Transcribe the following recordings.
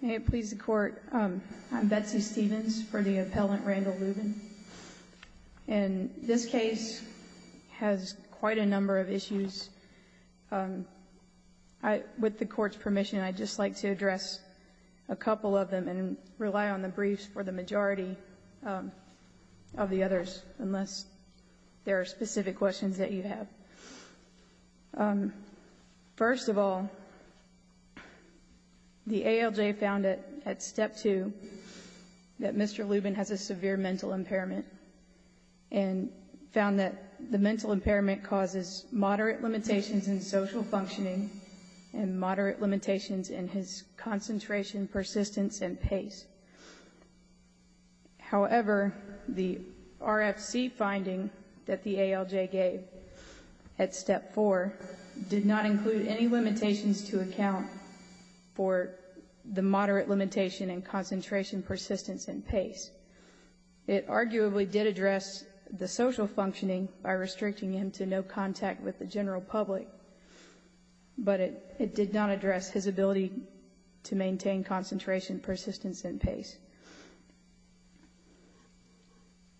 May it please the Court, I'm Betsy Stevens for the appellant Randall Lubin and this case has quite a number of issues. With the court's permission I'd just like to address a couple of them and rely on the briefs for the majority of the others ALJ found it at step 2 that Mr. Lubin has a severe mental impairment and found that the mental impairment causes moderate limitations in social functioning and moderate limitations in his concentration persistence and pace however the RFC finding that the ALJ gave at step 4 did not include any the moderate limitation in concentration persistence and pace it arguably did address the social functioning by restricting him to no contact with the general public but it did not address his ability to maintain concentration persistence and pace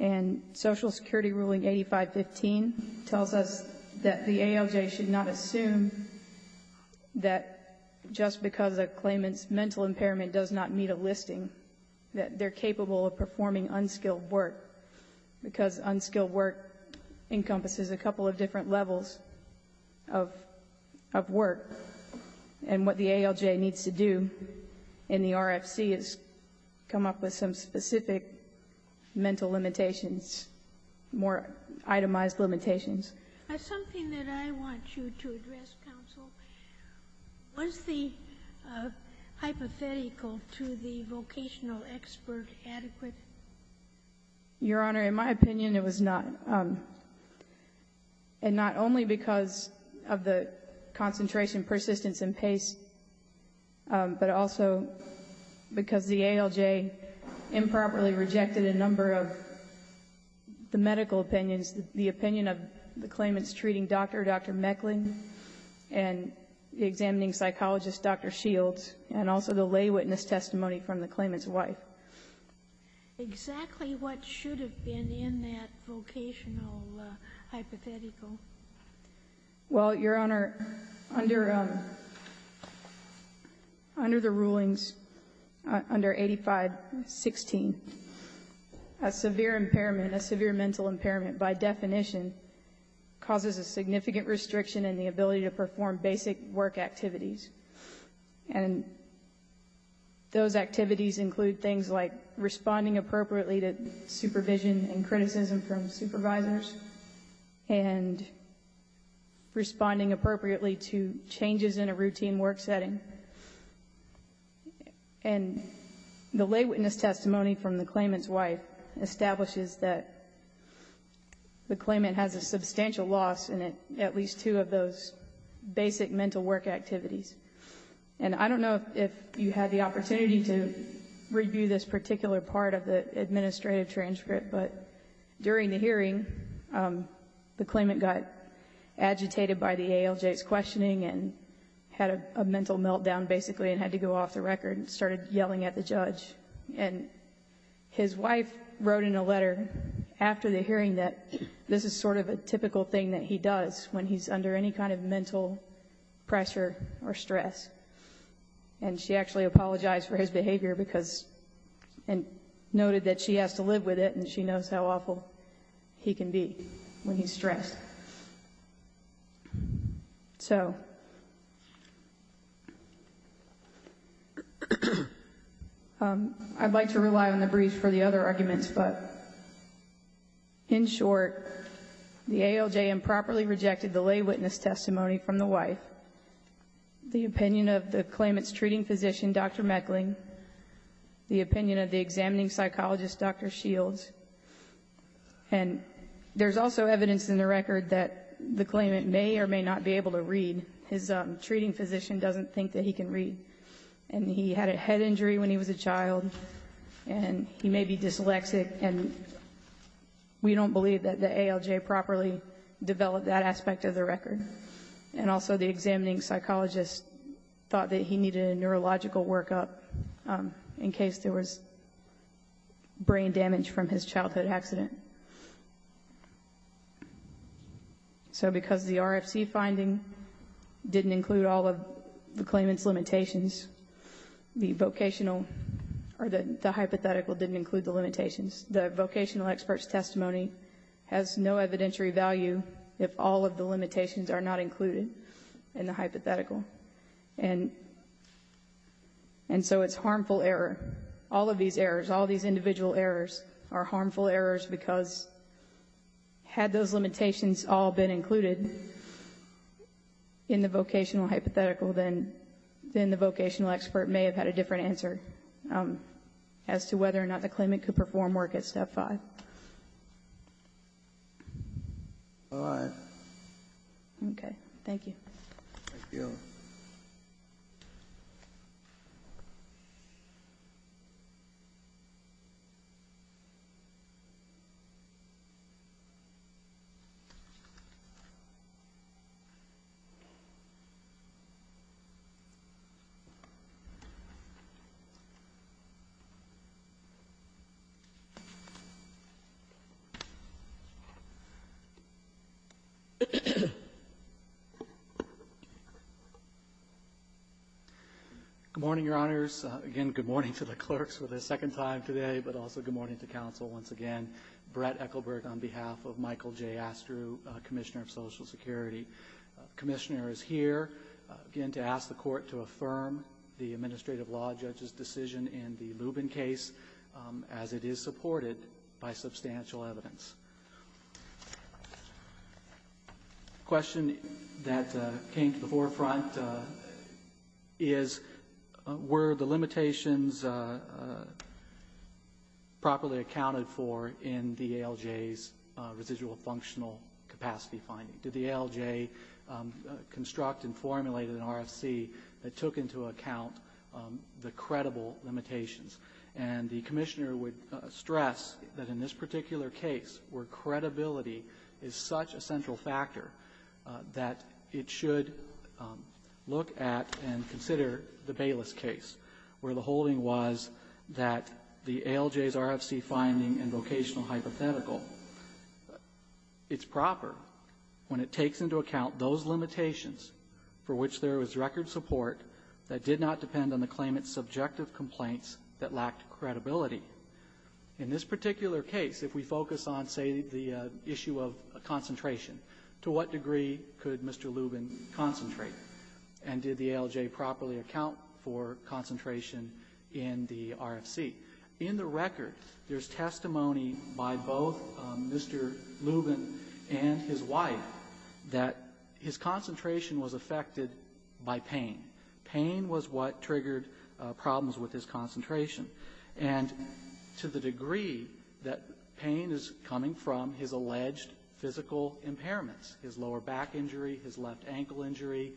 and Social Security ruling 8515 tells us that the ALJ should not assume that just because a claimant's mental impairment does not meet a listing that they're capable of performing unskilled work because unskilled work encompasses a couple of different levels of work and what the ALJ needs to do in the RFC is come up with some specific mental limitations more itemized limitations your honor in my opinion it was not and not only because of the concentration persistence and pace but also because the ALJ improperly rejected a number of the medical opinions the opinion of the claimants treating dr. dr. Mecklin and the examining psychologist dr. Shields and also the lay witness testimony from the claimants wife exactly what should have been in that vocational hypothetical well your honor under under the rulings under 8516 a severe impairment a severe mental impairment by definition causes a significant restriction in the ability to perform basic work activities and those activities include things like responding appropriately to supervision and criticism from supervisors and responding appropriately to changes in a routine work setting and the lay witness testimony from the claimants wife establishes that the claimant has a substantial loss in it at least two of those basic mental work activities and I don't know if you had the opportunity to review this particular part of the agitated by the ALJ's questioning and had a mental meltdown basically and had to go off the record and started yelling at the judge and his wife wrote in a letter after the hearing that this is sort of a typical thing that he does when he's under any kind of mental pressure or stress and she actually apologized for his behavior because and noted that she has to live with it and she knows how awful he can be when he's stressed so I'd like to rely on the brief for the other arguments but in short the ALJ improperly rejected the lay witness testimony from the wife the opinion of the claimants treating physician dr. Meckling the opinion of the examining psychologist dr. Shields and there's also evidence in the record that the claimant may or may not be able to read his treating physician doesn't think that he can read and he had a head injury when he was a child and he may be dyslexic and we don't believe that the ALJ properly developed that aspect of the record and also the examining psychologist thought that he needed a neurological workup in case there was brain damage from his childhood accident so because the RFC finding didn't include all of the claimants limitations the vocational or the hypothetical didn't include the limitations the vocational experts testimony has no evidentiary value if all of the limitations are not included in the hypothetical and and so it's harmful error all of these errors all these individual errors are harmful errors because had those limitations all been included in the vocational hypothetical then then the vocational expert may have had a different answer as to whether or not the claimant could perform work at step 5. All right. Okay, thank you. Good morning, your honors. Again, good morning to the clerks for the second time today but also good morning to counsel once again. Brett Ekelberg on behalf of Michael J. Astrew, Commissioner of Social Security. Commissioner is here again to ask the court to affirm the administrative law judge's decision in the Lubin case as it is supported by substantial evidence. Question that came to the forefront is were the limitations properly accounted for in the ALJ's residual functional capacity finding? Did the ALJ construct and formulate an RFC that took into account the credible limitations? And the Commissioner would stress that in this particular case where credibility is such a central factor that it should look at and consider the Bayless case where the holding was that the ALJ's RFC finding and vocational hypothetical, it's proper when it takes into account those limitations for which there was record support that did not depend on the claimant's subjective complaints that lacked credibility. In this particular case, if we focus on, say, the issue of concentration, to what degree could Mr. Lubin concentrate? And did the ALJ properly account for concentration in the RFC? In the record, there's testimony by both Mr. Lubin and his wife that his concentration was affected by pain. Pain was what triggered problems with his concentration. And to the degree that pain is coming from his alleged physical impairments, his lower back injury, his left ankle injury,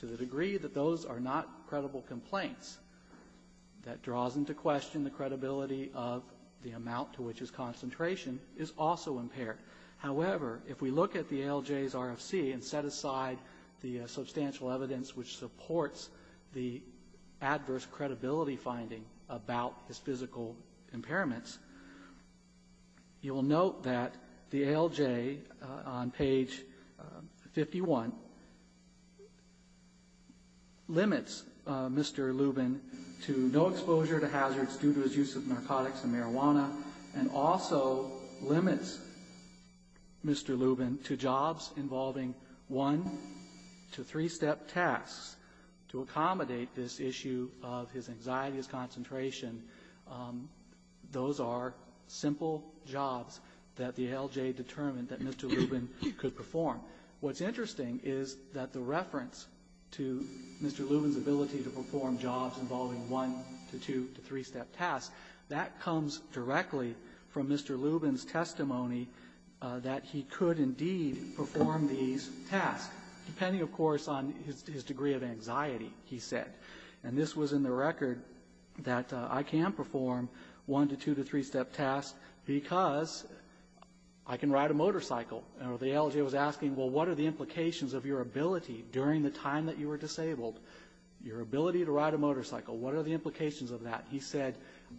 to the degree that those are not credible complaints, that draws into question the credibility of the amount to which his concentration is also impaired. However, if we look at the ALJ's RFC and set aside the substantial evidence which supports the adverse credibility finding about his physical impairments, you will note that the ALJ on page 51 limits Mr. Lubin to no exposure to hazards due to his use of narcotics and marijuana, and also limits Mr. Lubin to jobs involving one- to three-step tasks to accommodate this issue of his anxiety, his concentration. Those are simple jobs that the ALJ determined that Mr. Lubin could perform. What's interesting is that the reference to Mr. Lubin's ability to perform jobs involving one- to two- to three-step tasks, that comes directly from Mr. Lubin's testimony that he could indeed perform these tasks, depending, of course, on his degree of anxiety, he said. And this was in the record that I can perform one- to two- to three-step tasks because I can ride a motorcycle. The ALJ was asking, well, what are the implications of your ability during the time that you were disabled, your ability to ride a motorcycle, what are the implications of that? He said,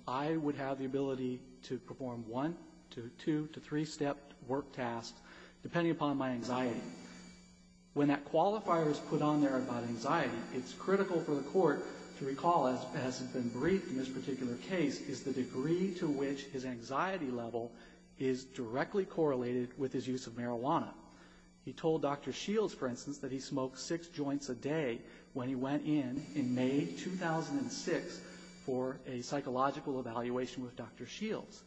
I would have the ability to perform one- to two- to three-step work tasks depending upon my anxiety. When that qualifier is put on there about anxiety, it's critical for the court to recall, as has been briefed in this particular case, the degree to which his anxiety level is directly correlated with his use of marijuana. He told Dr. Shields, for instance, that he smoked six joints a day when he went in in May 2006 for a psychological evaluation with Dr. Shields.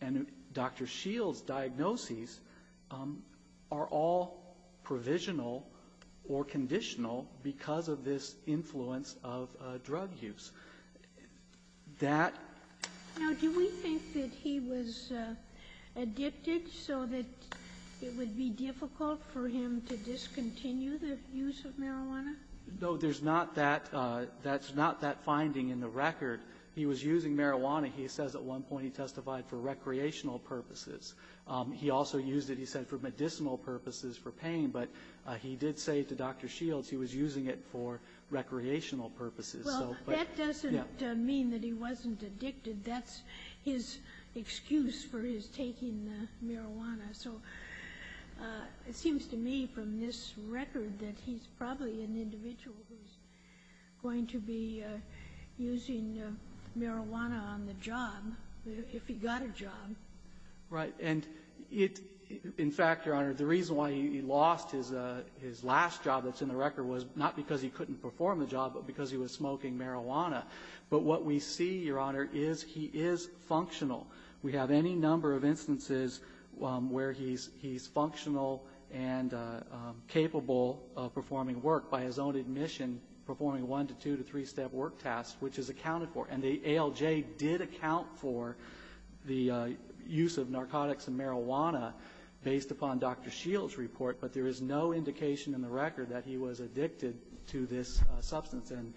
And Dr. Shields' diagnoses are all provisional or conditional because of this influence of drug use. That... Now, do we think that he was addicted so that it would be difficult for him to discontinue the use of marijuana? No, there's not that finding in the record. He was using marijuana, he says, at one point he testified for recreational purposes. He also used it, he said, for medicinal purposes for pain, but he did say to Dr. Shields he was using it for recreational purposes. Well, that doesn't mean that he wasn't addicted. That's his excuse for his taking marijuana. So it seems to me from this record that he's probably an individual who's going to be using marijuana on the job, if he got a job. Right. And it, in fact, Your Honor, the reason why he lost his last job that's in the record was not because he couldn't perform the job, but because he was smoking marijuana. But what we see, Your Honor, is he is functional. We have any number of instances where he's functional and capable of performing work by his own admission, performing one to two to three-step work tasks, which is accounted for. And the ALJ did account for the use of narcotics and marijuana based upon Dr. Shields' report, but there is no indication in the record that he was addicted to this substance. And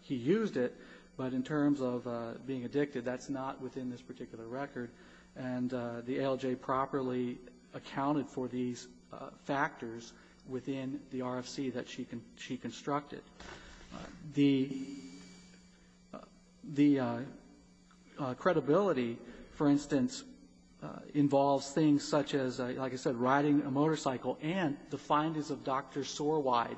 he used it, but in terms of being addicted, that's not within this particular record. And the ALJ properly accounted for these factors within the RFC that she constructed. The credibility, for instance, involves things such as, like I said, riding a motorcycle, and the findings of Dr. Sorwide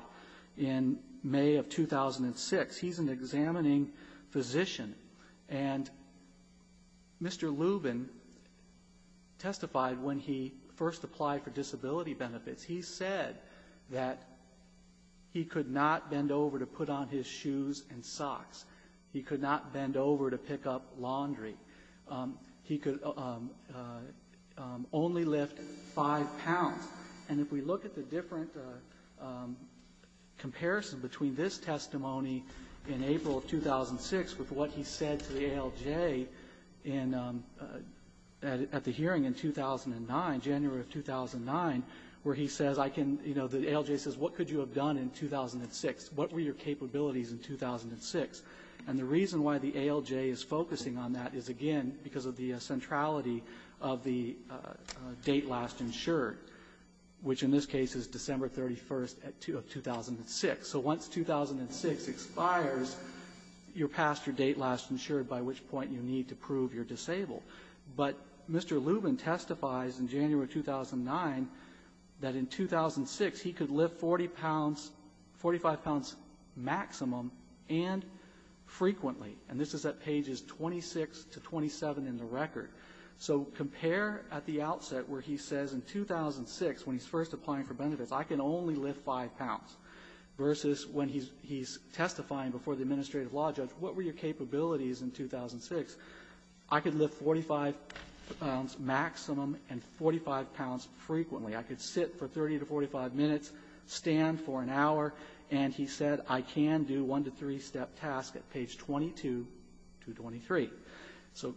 in May of 2006. He's an examining physician, and Mr. Lubin testified when he first applied for disability benefits. He said that he could not bend over to put on his shoes and socks. He could not bend over to pick up laundry. He could only lift five pounds. And if we look at the different comparison between this testimony in April of 2006 with what he said to the ALJ at the hearing in 2009, January of 2009, where he says, I can, you know, the ALJ says, what could you have done in 2006? What were your capabilities in 2006? And the reason why the ALJ is focusing on that is, again, because of the centrality of the date last insured, which in this case is December 31st of 2006. So once 2006 expires, you're past your date last insured, by which point you need to prove you're disabled. But Mr. Lubin testifies in January of 2009 that in 2006, he could lift 40 pounds, and he could lift 40 pounds, 45 pounds maximum and frequently. And this is at pages 26 to 27 in the record. So compare at the outset where he says in 2006, when he's first applying for benefits, I can only lift five pounds, versus when he's testifying before the administrative law judge, what were your capabilities in 2006? I could lift 45 pounds maximum and 45 pounds frequently. I could sit for 30 to 45 minutes, stand for 30 to 45 minutes, stand for an hour. And he said I can do one-to-three-step tasks at page 22 to 23. So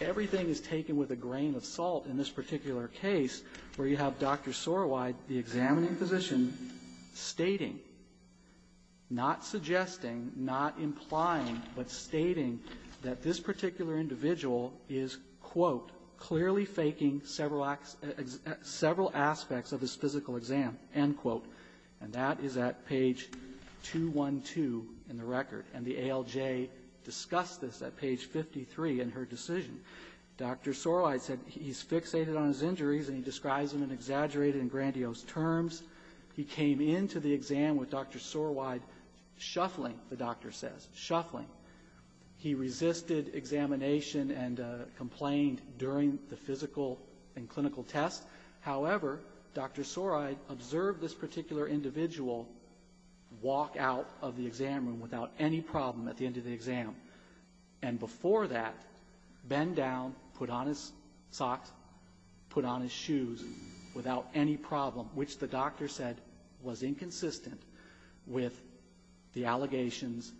everything is taken with a grain of salt in this particular case where you have Dr. Sorowide, the examining physician, stating, not suggesting, not implying, but stating that this particular individual is, quote, clearly faking several aspects of his physical exam, end quote. And that is at page 212 in the record, and the ALJ discussed this at page 53 in her decision. Dr. Sorowide said he's fixated on his injuries, and he describes them in exaggerated and grandiose terms. He came into the exam with Dr. Sorowide shuffling, the doctor says, shuffling. He resisted examination and complained during the physical and clinical test. However, Dr. Sorowide observed this particular individual walk out of the exam room without any problem at the end of the exam, and before that, bent down, put on his socks, put on his shoes without any problem, which the doctor said was inconsistent with the allegations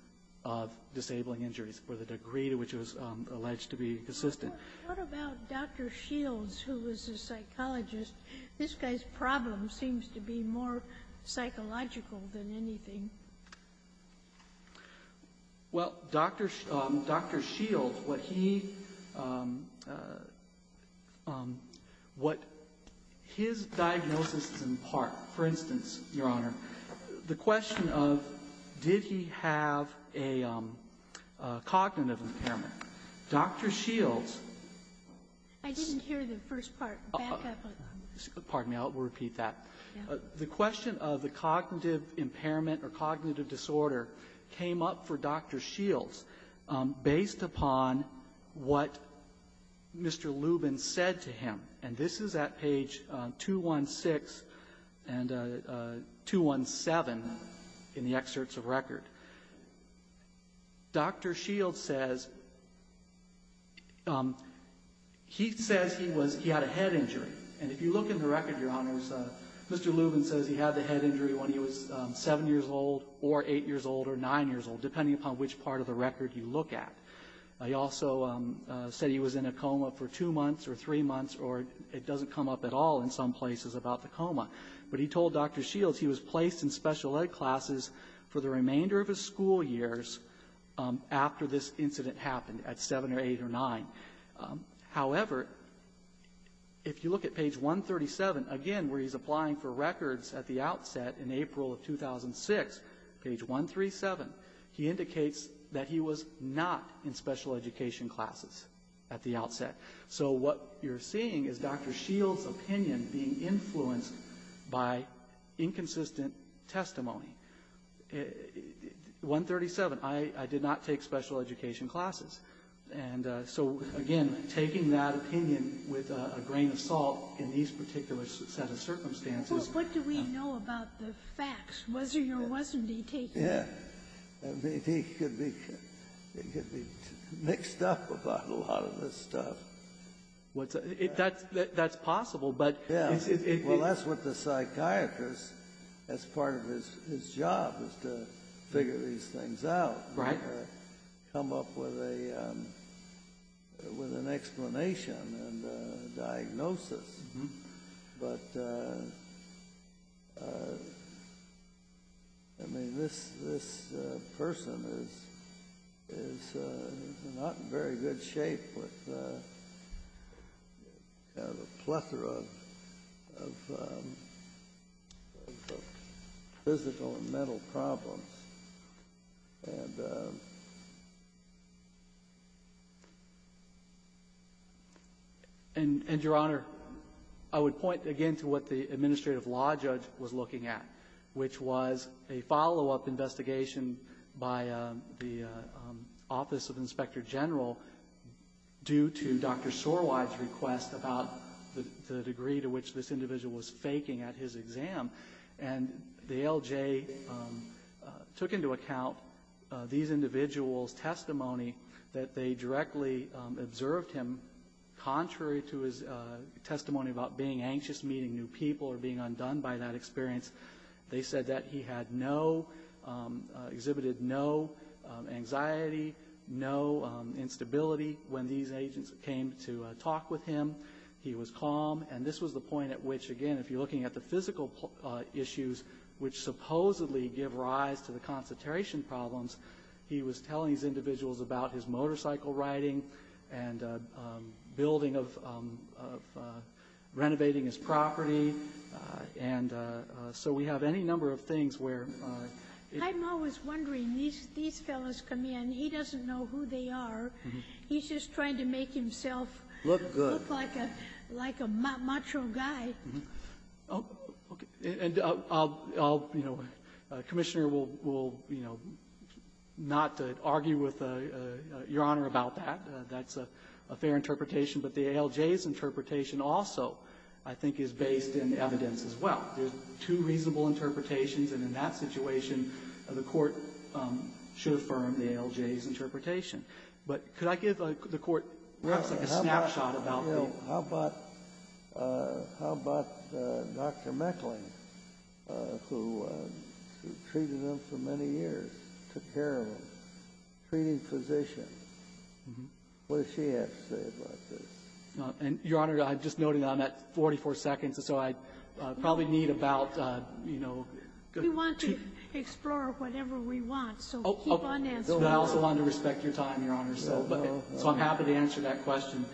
of disabling injuries for the degree to which it was alleged to be inconsistent. Sotomayor, what about Dr. Shields, who was a psychologist? This guy's problem seems to be more psychological than anything. Well, Dr. Shields, what he, what his diagnosis is in part, for instance, Your Honor, the question of did he have a cognitive impairment. Dr. Shields, who was a psychologist I didn't hear the first part. Back up. Pardon me. I'll repeat that. The question of the cognitive impairment or cognitive disorder came up for Dr. Shields based upon what Mr. Lubin said to him, and this is at page 216 and 217 in the excerpts of record. Dr. Shields says, he said that he was, he had a head injury, and if you look in the record, Your Honors, Mr. Lubin says he had the head injury when he was seven years old or eight years old or nine years old, depending upon which part of the record you look at. He also said he was in a coma for two months or three months, or it doesn't come up at all in some places about the coma, but he told Dr. Shields he was placed in special ed classes for the remainder of his school years after this incident happened at seven or eight or nine. However, if you look at page 137, again, where he's applying for records at the outset in April of 2006, page 137, he indicates that he was not in special education classes at the outset. So what you're seeing is Dr. Shields' opinion being influenced by inconsistent testimony. 137, I did not take special education classes. And so, again, taking that opinion with a grain of salt in these particular set of circumstances. Well, what do we know about the facts? Was he or wasn't he taken? Yeah. I mean, he could be, he could be mixed up about a lot of this stuff. That's possible, but... Well, that's what the psychiatrist, as part of his job, is to figure these things out or come up with an explanation and a diagnosis. But, I mean, this person is not in very good shape with kind of a plethora of physical and mental problems. And, Your Honor, I would point again to what the administrative law judge was looking at, which was a follow-up investigation by the Office of the Inspector General due to Dr. Sorwide's request about the degree to which this individual was faking at his exam. And the ALJ took into account these individuals' testimony that they directly observed him contrary to his testimony about being anxious, meeting new people, or being undone by that experience. They said that he had no, exhibited no anxiety, no instability. When these agents came to talk with him, he was calm. And this was the point at which, again, if you're looking at the physical issues which supposedly give rise to the concentration problems, he was telling these individuals about his motorcycle riding and building of renovating his property. And so we have any number of things where... But I'm always wondering, these fellows come in, he doesn't know who they are. He's just trying to make himself look like a macho guy. Okay. And I'll, you know, Commissioner will, you know, not argue with Your Honor about that. That's a fair interpretation. But the ALJ's interpretation also, I think, is based in evidence as well. There are two reasonable interpretations, and in that situation the Court should affirm the ALJ's interpretation. But could I give the Court perhaps like a snapshot about the... Well, how about, how about Dr. Meckling, who treated him for many years, took care of him, treating physicians? What does she have to say about this? Your Honor, I've just noted on that 44 seconds, and so I probably need about, you know... We want to explore whatever we want, so keep on answering. I also wanted to respect your time, Your Honor, so I'm happy to answer that question.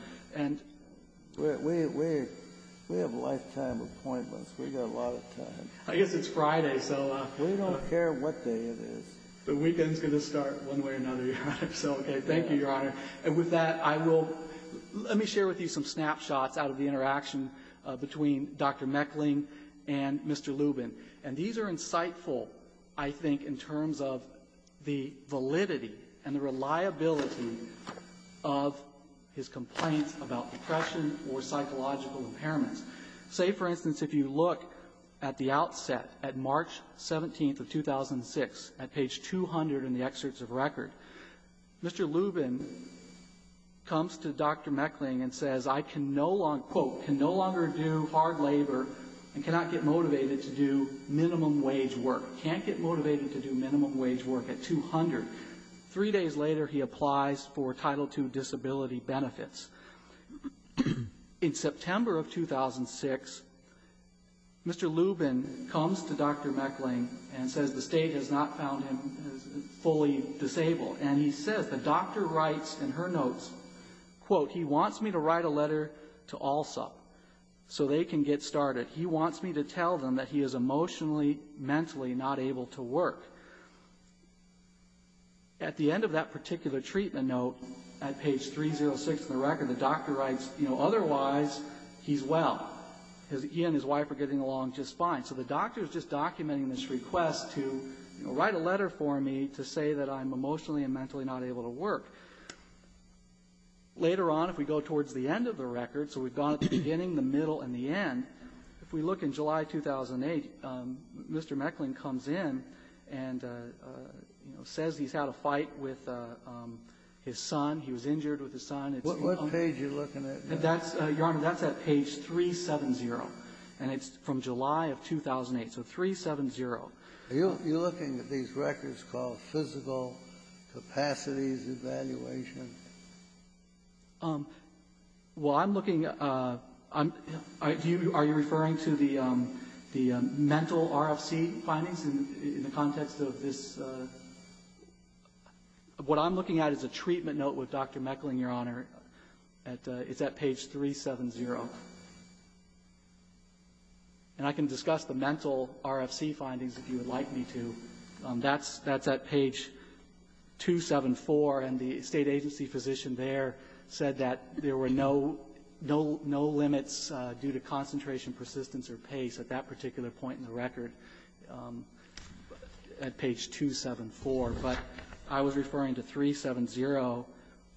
We have lifetime appointments. We've got a lot of time. I guess it's Friday, so... We don't care what day it is. The weekend's going to start one way or another, Your Honor. So, okay, thank you, Your Honor. And with that, I will, let me share with you some snapshots out of the interaction between Dr. Meckling and Mr. Lubin. And these are insightful, I think, in terms of the validity and the reliability of his complaints about depression or psychological impairments. Say, for instance, if you look at the outset, at March 17th of 2006 at page 200 in the excerpts of record, Mr. Lubin comes to Dr. Meckling and says, I can no longer, quote, can no longer do hard labor and cannot get motivated to do minimum wage work. Can't get motivated to do minimum wage work at 200. Three days later, he applies for Title II disability benefits. In September of 2006, Mr. Lubin comes to Dr. Meckling and says the state has not found him fully disabled. And he says, the doctor writes in her notes, quote, he wants me to write a letter to ALSA so they can get started. He wants me to tell them that he is emotionally, mentally not able to work. At the end of that particular treatment note, at page 306 in the record, the doctor writes, you know, otherwise he's well. He and his wife are getting along just fine. So the doctor is just documenting this request to, you know, write a letter for me to say that I'm emotionally and mentally not able to work. Later on, if we go towards the end of the record, so we've gone to the beginning, the middle, and the end, if we look in July 2008, Mr. Meckling comes in and, you know, says he's had a fight with his son. He was injured with his son. It's you know. Kennedy, what page are you looking at? That's, Your Honor, that's at page 370. And it's from July of 2008. So 370. Are you looking at these records called Physical Capacities Evaluation? Well, I'm looking. Are you referring to the mental RFC findings in the context of this? What I'm looking at is a treatment note with Dr. Meckling, Your Honor. It's at page 370. And I can discuss the mental RFC findings if you would like me to. That's at page 274. And the State agency physician there said that there were no limits due to concentration, persistence, or pace at that particular point in the record at page 274. But I was referring to 370,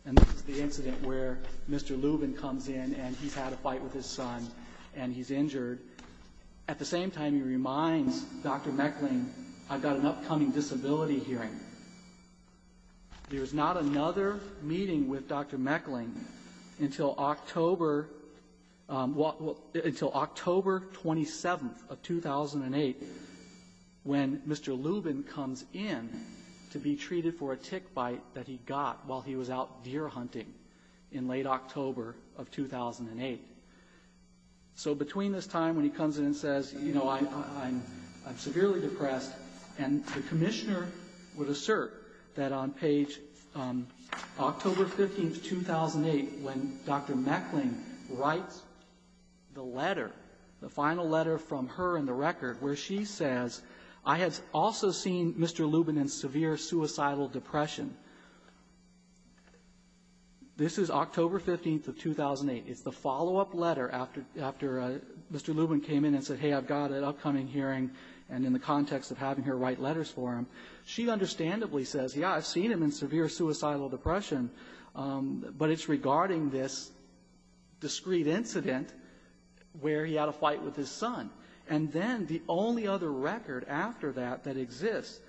and this is the incident where Mr. Lubin comes in, and he's had a fight with his son, and he's injured. At the same time, he reminds Dr. Meckling, I've got an upcoming disability hearing. There's not another meeting with Dr. Meckling until October 27th of 2008, when he says that he's had a fight with his son, and he's injured, when Mr. Lubin comes in to be treated for a tick bite that he got while he was out deer hunting in late October of 2008. So between this time when he comes in and says, you know, I'm severely depressed, and the commissioner would assert that on page October 15th, 2008, when Dr. Meckling writes the letter, the final letter from her in the record, where she says, I have also seen Mr. Lubin in severe suicidal depression. This is October 15th of 2008. It's the follow-up letter after Mr. Lubin came in and said, hey, I've got an upcoming hearing, and in the context of having her write letters for him, she understandably says, yeah, I've seen him in severe suicidal depression, but it's regarding this discrete incident where he had a fight with his son. And then the only other record after that that exists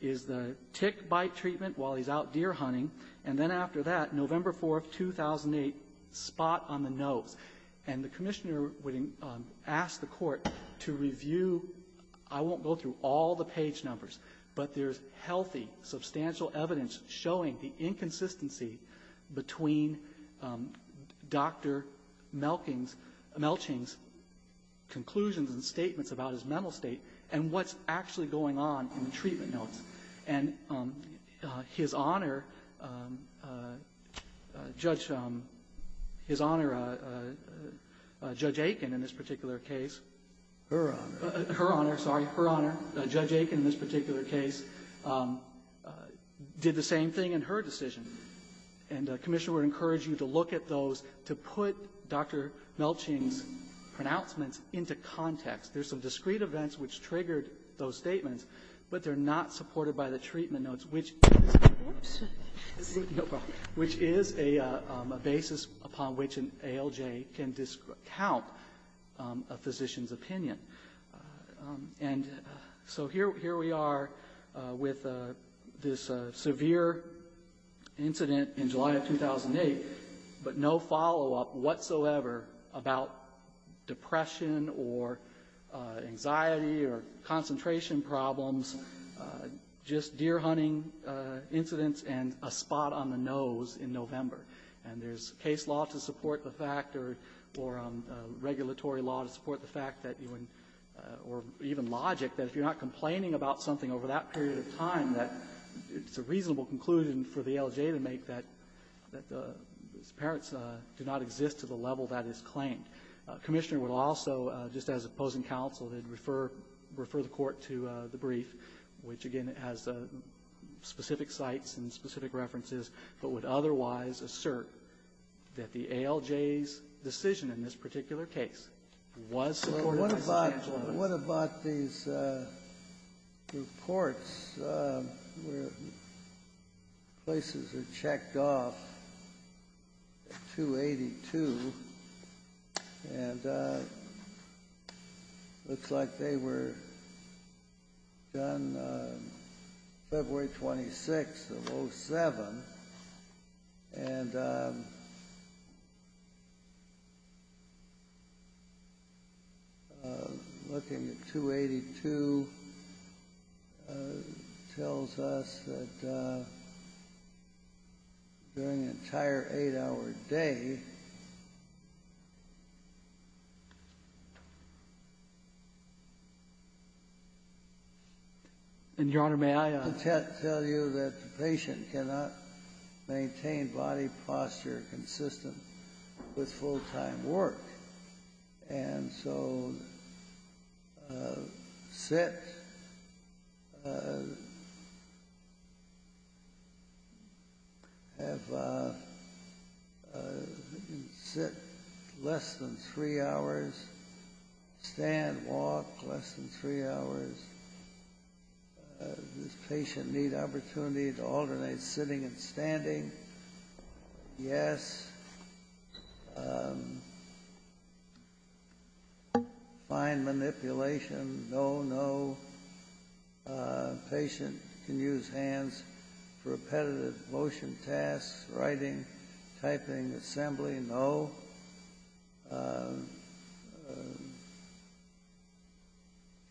is the tick bite treatment while he's out deer hunting, and then after that, November 4th, 2008, spot on the nose. And the commissioner would ask the court to review, I won't go through all the page numbers, but there's healthy, substantial evidence showing the inconsistency between Dr. Melching's conclusions and statements about his mental state and what's actually going on in the treatment notes. And his Honor, Judge Aiken in this particular case, her Honor, sorry, her Honor, Judge Aiken in this particular case, did the same thing in her decision, and the commissioner would encourage you to look at those to put Dr. Melching's pronouncements into context. There's some discrete events which triggered those statements, but they're not supported by the treatment notes, which is a basis upon which an ALJ can discount a physician's opinion. And so here we are with this severe incident in July of 2008, but no follow-up whatsoever about depression or anxiety or concentration problems, just deer hunting incidents and a spot on the nose in November. And there's case law to support the fact, or regulatory law to support the fact that you or even logic, that if you're not complaining about something over that period of time, that it's a reasonable conclusion for the ALJ to make that the parents do not exist to the level that is claimed. Commissioner would also, just as opposing counsel, they'd refer the Court to the brief, which again has specific sites and specific references, but would otherwise assert that the ALJ's decision in this particular case was supported by the financial notice. What about these reports where places are checked off at 282, and it looks like they were done February 26th of 07, and they're not supported by the financial notice. Looking at 282, it tells us that during an entire 8-hour day. And, Your Honor, may I ask? The tests tell you that the patient cannot maintain body posture consistent with full-time work. And so sit, have, sit less than three hours, stand, walk less than three hours. Does the patient need opportunity to alternate sitting and standing? Yes. Fine manipulation, no, no. Patient can use hands for repetitive motion tasks, writing, typing, assembly, no.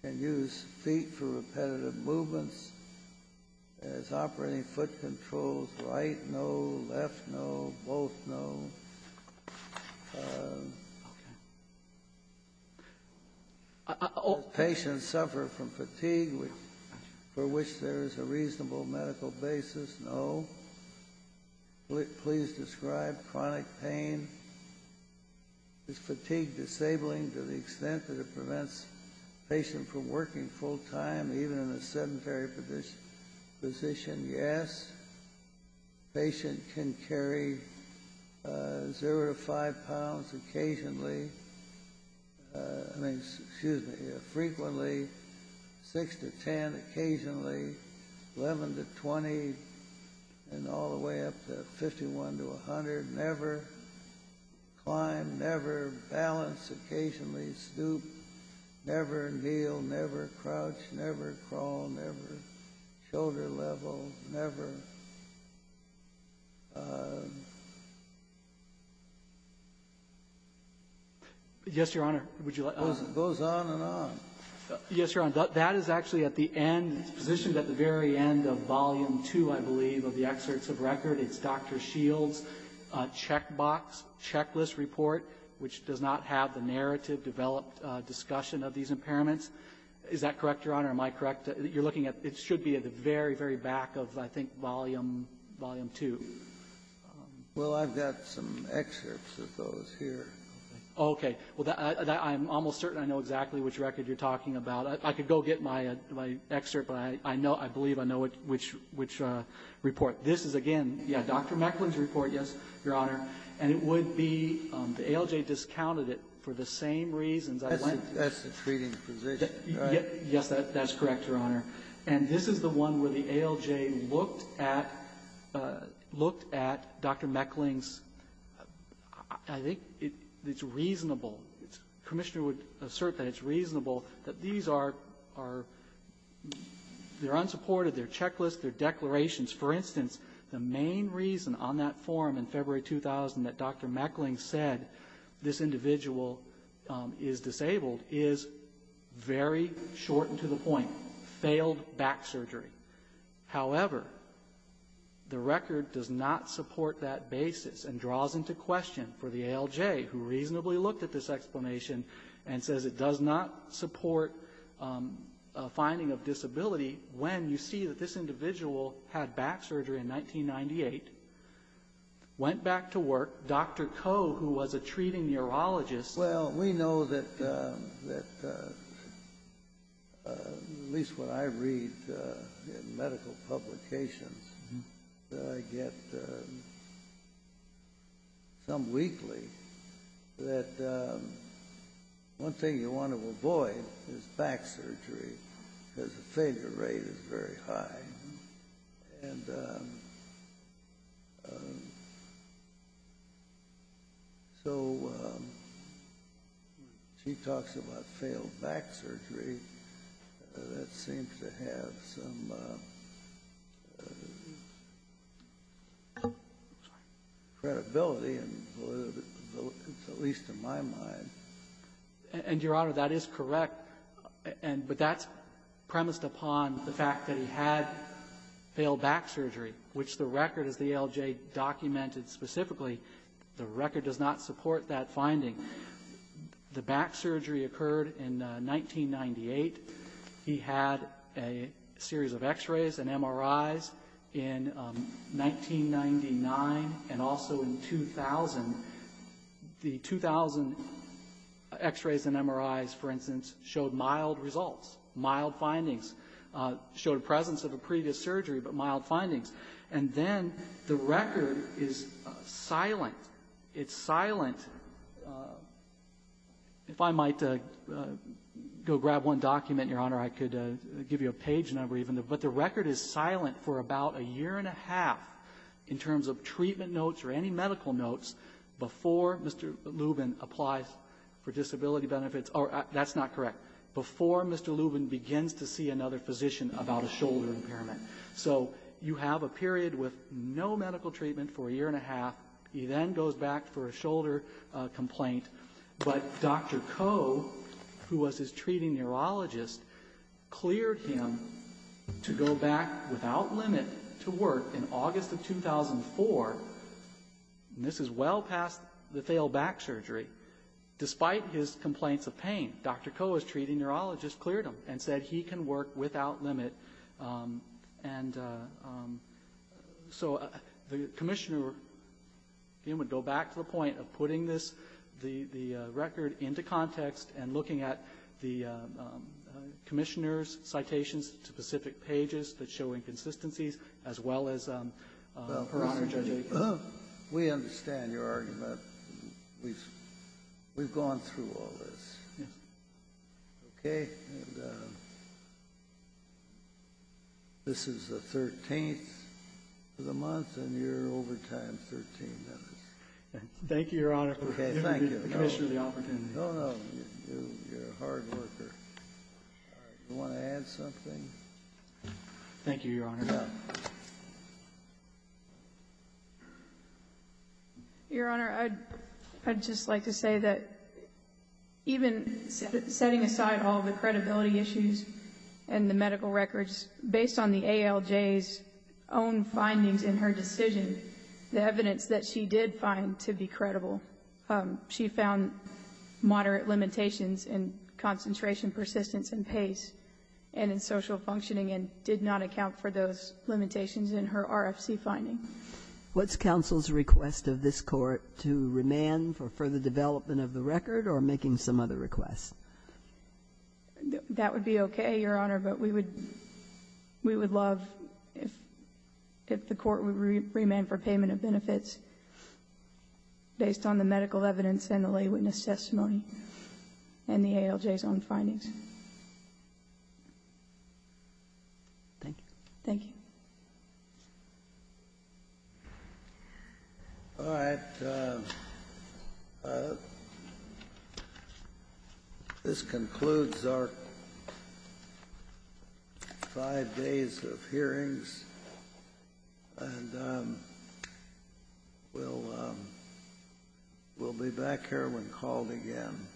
Can use feet for repetitive movements as operating foot controls, right, no, left, no, both, no. Okay. Does the patient suffer from fatigue for which there is a reasonable medical basis? No. Please describe chronic pain. Is fatigue disabling to the extent that it prevents the patient from working full-time, even in a sedentary position? Yes. The patient can carry 0 to 5 pounds occasionally, I mean, excuse me, frequently, 6 to 10 occasionally, 11 to 20, and all the way up to 51 to 100. Never climb, never balance occasionally, stoop, never kneel, never crouch, never crawl, never shoulder level, never. Yes, Your Honor. Would you like to go on? It goes on and on. Yes, Your Honor. That is actually at the end, positioned at the very end of Volume 2, I believe, of the excerpts of record. It's Dr. Shields' checkbox checklist report, which does not have the narrative-developed discussion of these impairments. Is that correct, Your Honor? Am I correct? You're looking at, it should be at the very, very back of, I think, Volume 2. Well, I've got some excerpts of those here. Okay. Well, I'm almost certain I know exactly which record you're talking about. I could go get my excerpt, but I know, I believe I know which report. This is, again, yeah, Dr. Meckling's report, yes, Your Honor. And it would be, the ALJ discounted it for the same reasons I went to. That's the treating position, right? Yes, that's correct, Your Honor. And this is the one where the ALJ looked at, looked at Dr. Meckling's, I think it's reasonable, the Commissioner would assert that it's reasonable that these are, they're unsupported, they're checklists, they're declarations. For instance, the main reason on that form in February 2000 that Dr. Meckling said this individual is disabled is very short and to the point, failed back surgery. However, the record does not support that basis and draws into question for the ALJ who reasonably looked at this explanation and says it does not support a finding of back surgery in 1998, went back to work, Dr. Koh, who was a treating urologist. Well, we know that, at least what I read in medical publications that I get some weekly, that one thing you want to avoid is back surgery because the failure rate is very high. And so when she talks about failed back surgery, that seems to have some credibility, at least in my mind. And, Your Honor, that is correct. But that's premised upon the fact that he had failed back surgery, which the record as the ALJ documented specifically, the record does not support that finding. The back surgery occurred in 1998. He had a series of x-rays and MRIs in 1999 and also in 2000. The 2000 x-rays and MRIs, for instance, showed mild results, mild findings, showed a presence of a previous surgery, but mild findings. And then the record is silent. It's silent. If I might go grab one document, Your Honor, I could give you a page number even. But the record is silent for about a year and a half in terms of treatment notes or any medical notes before Mr. Lubin applies for disability benefits. That's not correct. Before Mr. Lubin begins to see another physician about a shoulder impairment. So you have a period with no medical treatment for a year and a half. He then goes back for a shoulder complaint. But Dr. Koh, who was his treating neurologist, cleared him to go back without limit to work in August of 2004. And this is well past the failed back surgery. Despite his complaints of pain, Dr. Koh, his treating neurologist, cleared him and said he can work without limit. And so the Commissioner, again, would go back to the point of putting this, the record into context and looking at the Commissioner's citations to specific pages that show inconsistencies as well as the process. We understand your argument. We've gone through all this. Okay. This is the 13th of the month and you're over time 13 minutes. Thank you, Your Honor. Okay, thank you. Commissioner, the opportunity. No, no. You're a hard worker. Do you want to add something? Thank you, Your Honor. Your Honor, I'd just like to say that even setting aside all the credibility issues and the medical records, based on the ALJ's own findings in her decision, the evidence that she did find to be credible, she found moderate limitations in concentration, persistence, and pace, and in social functioning, and did not account for those limitations in her RFC finding. What's counsel's request of this Court to remand for further development of the record or making some other requests? That would be okay, Your Honor, but we would love if the Court would remand for payment of benefits based on the medical evidence and the lay witness testimony and the ALJ's own findings. Thank you. Thank you. All right. This concludes our five days of hearings. And we'll be back here when called again someday.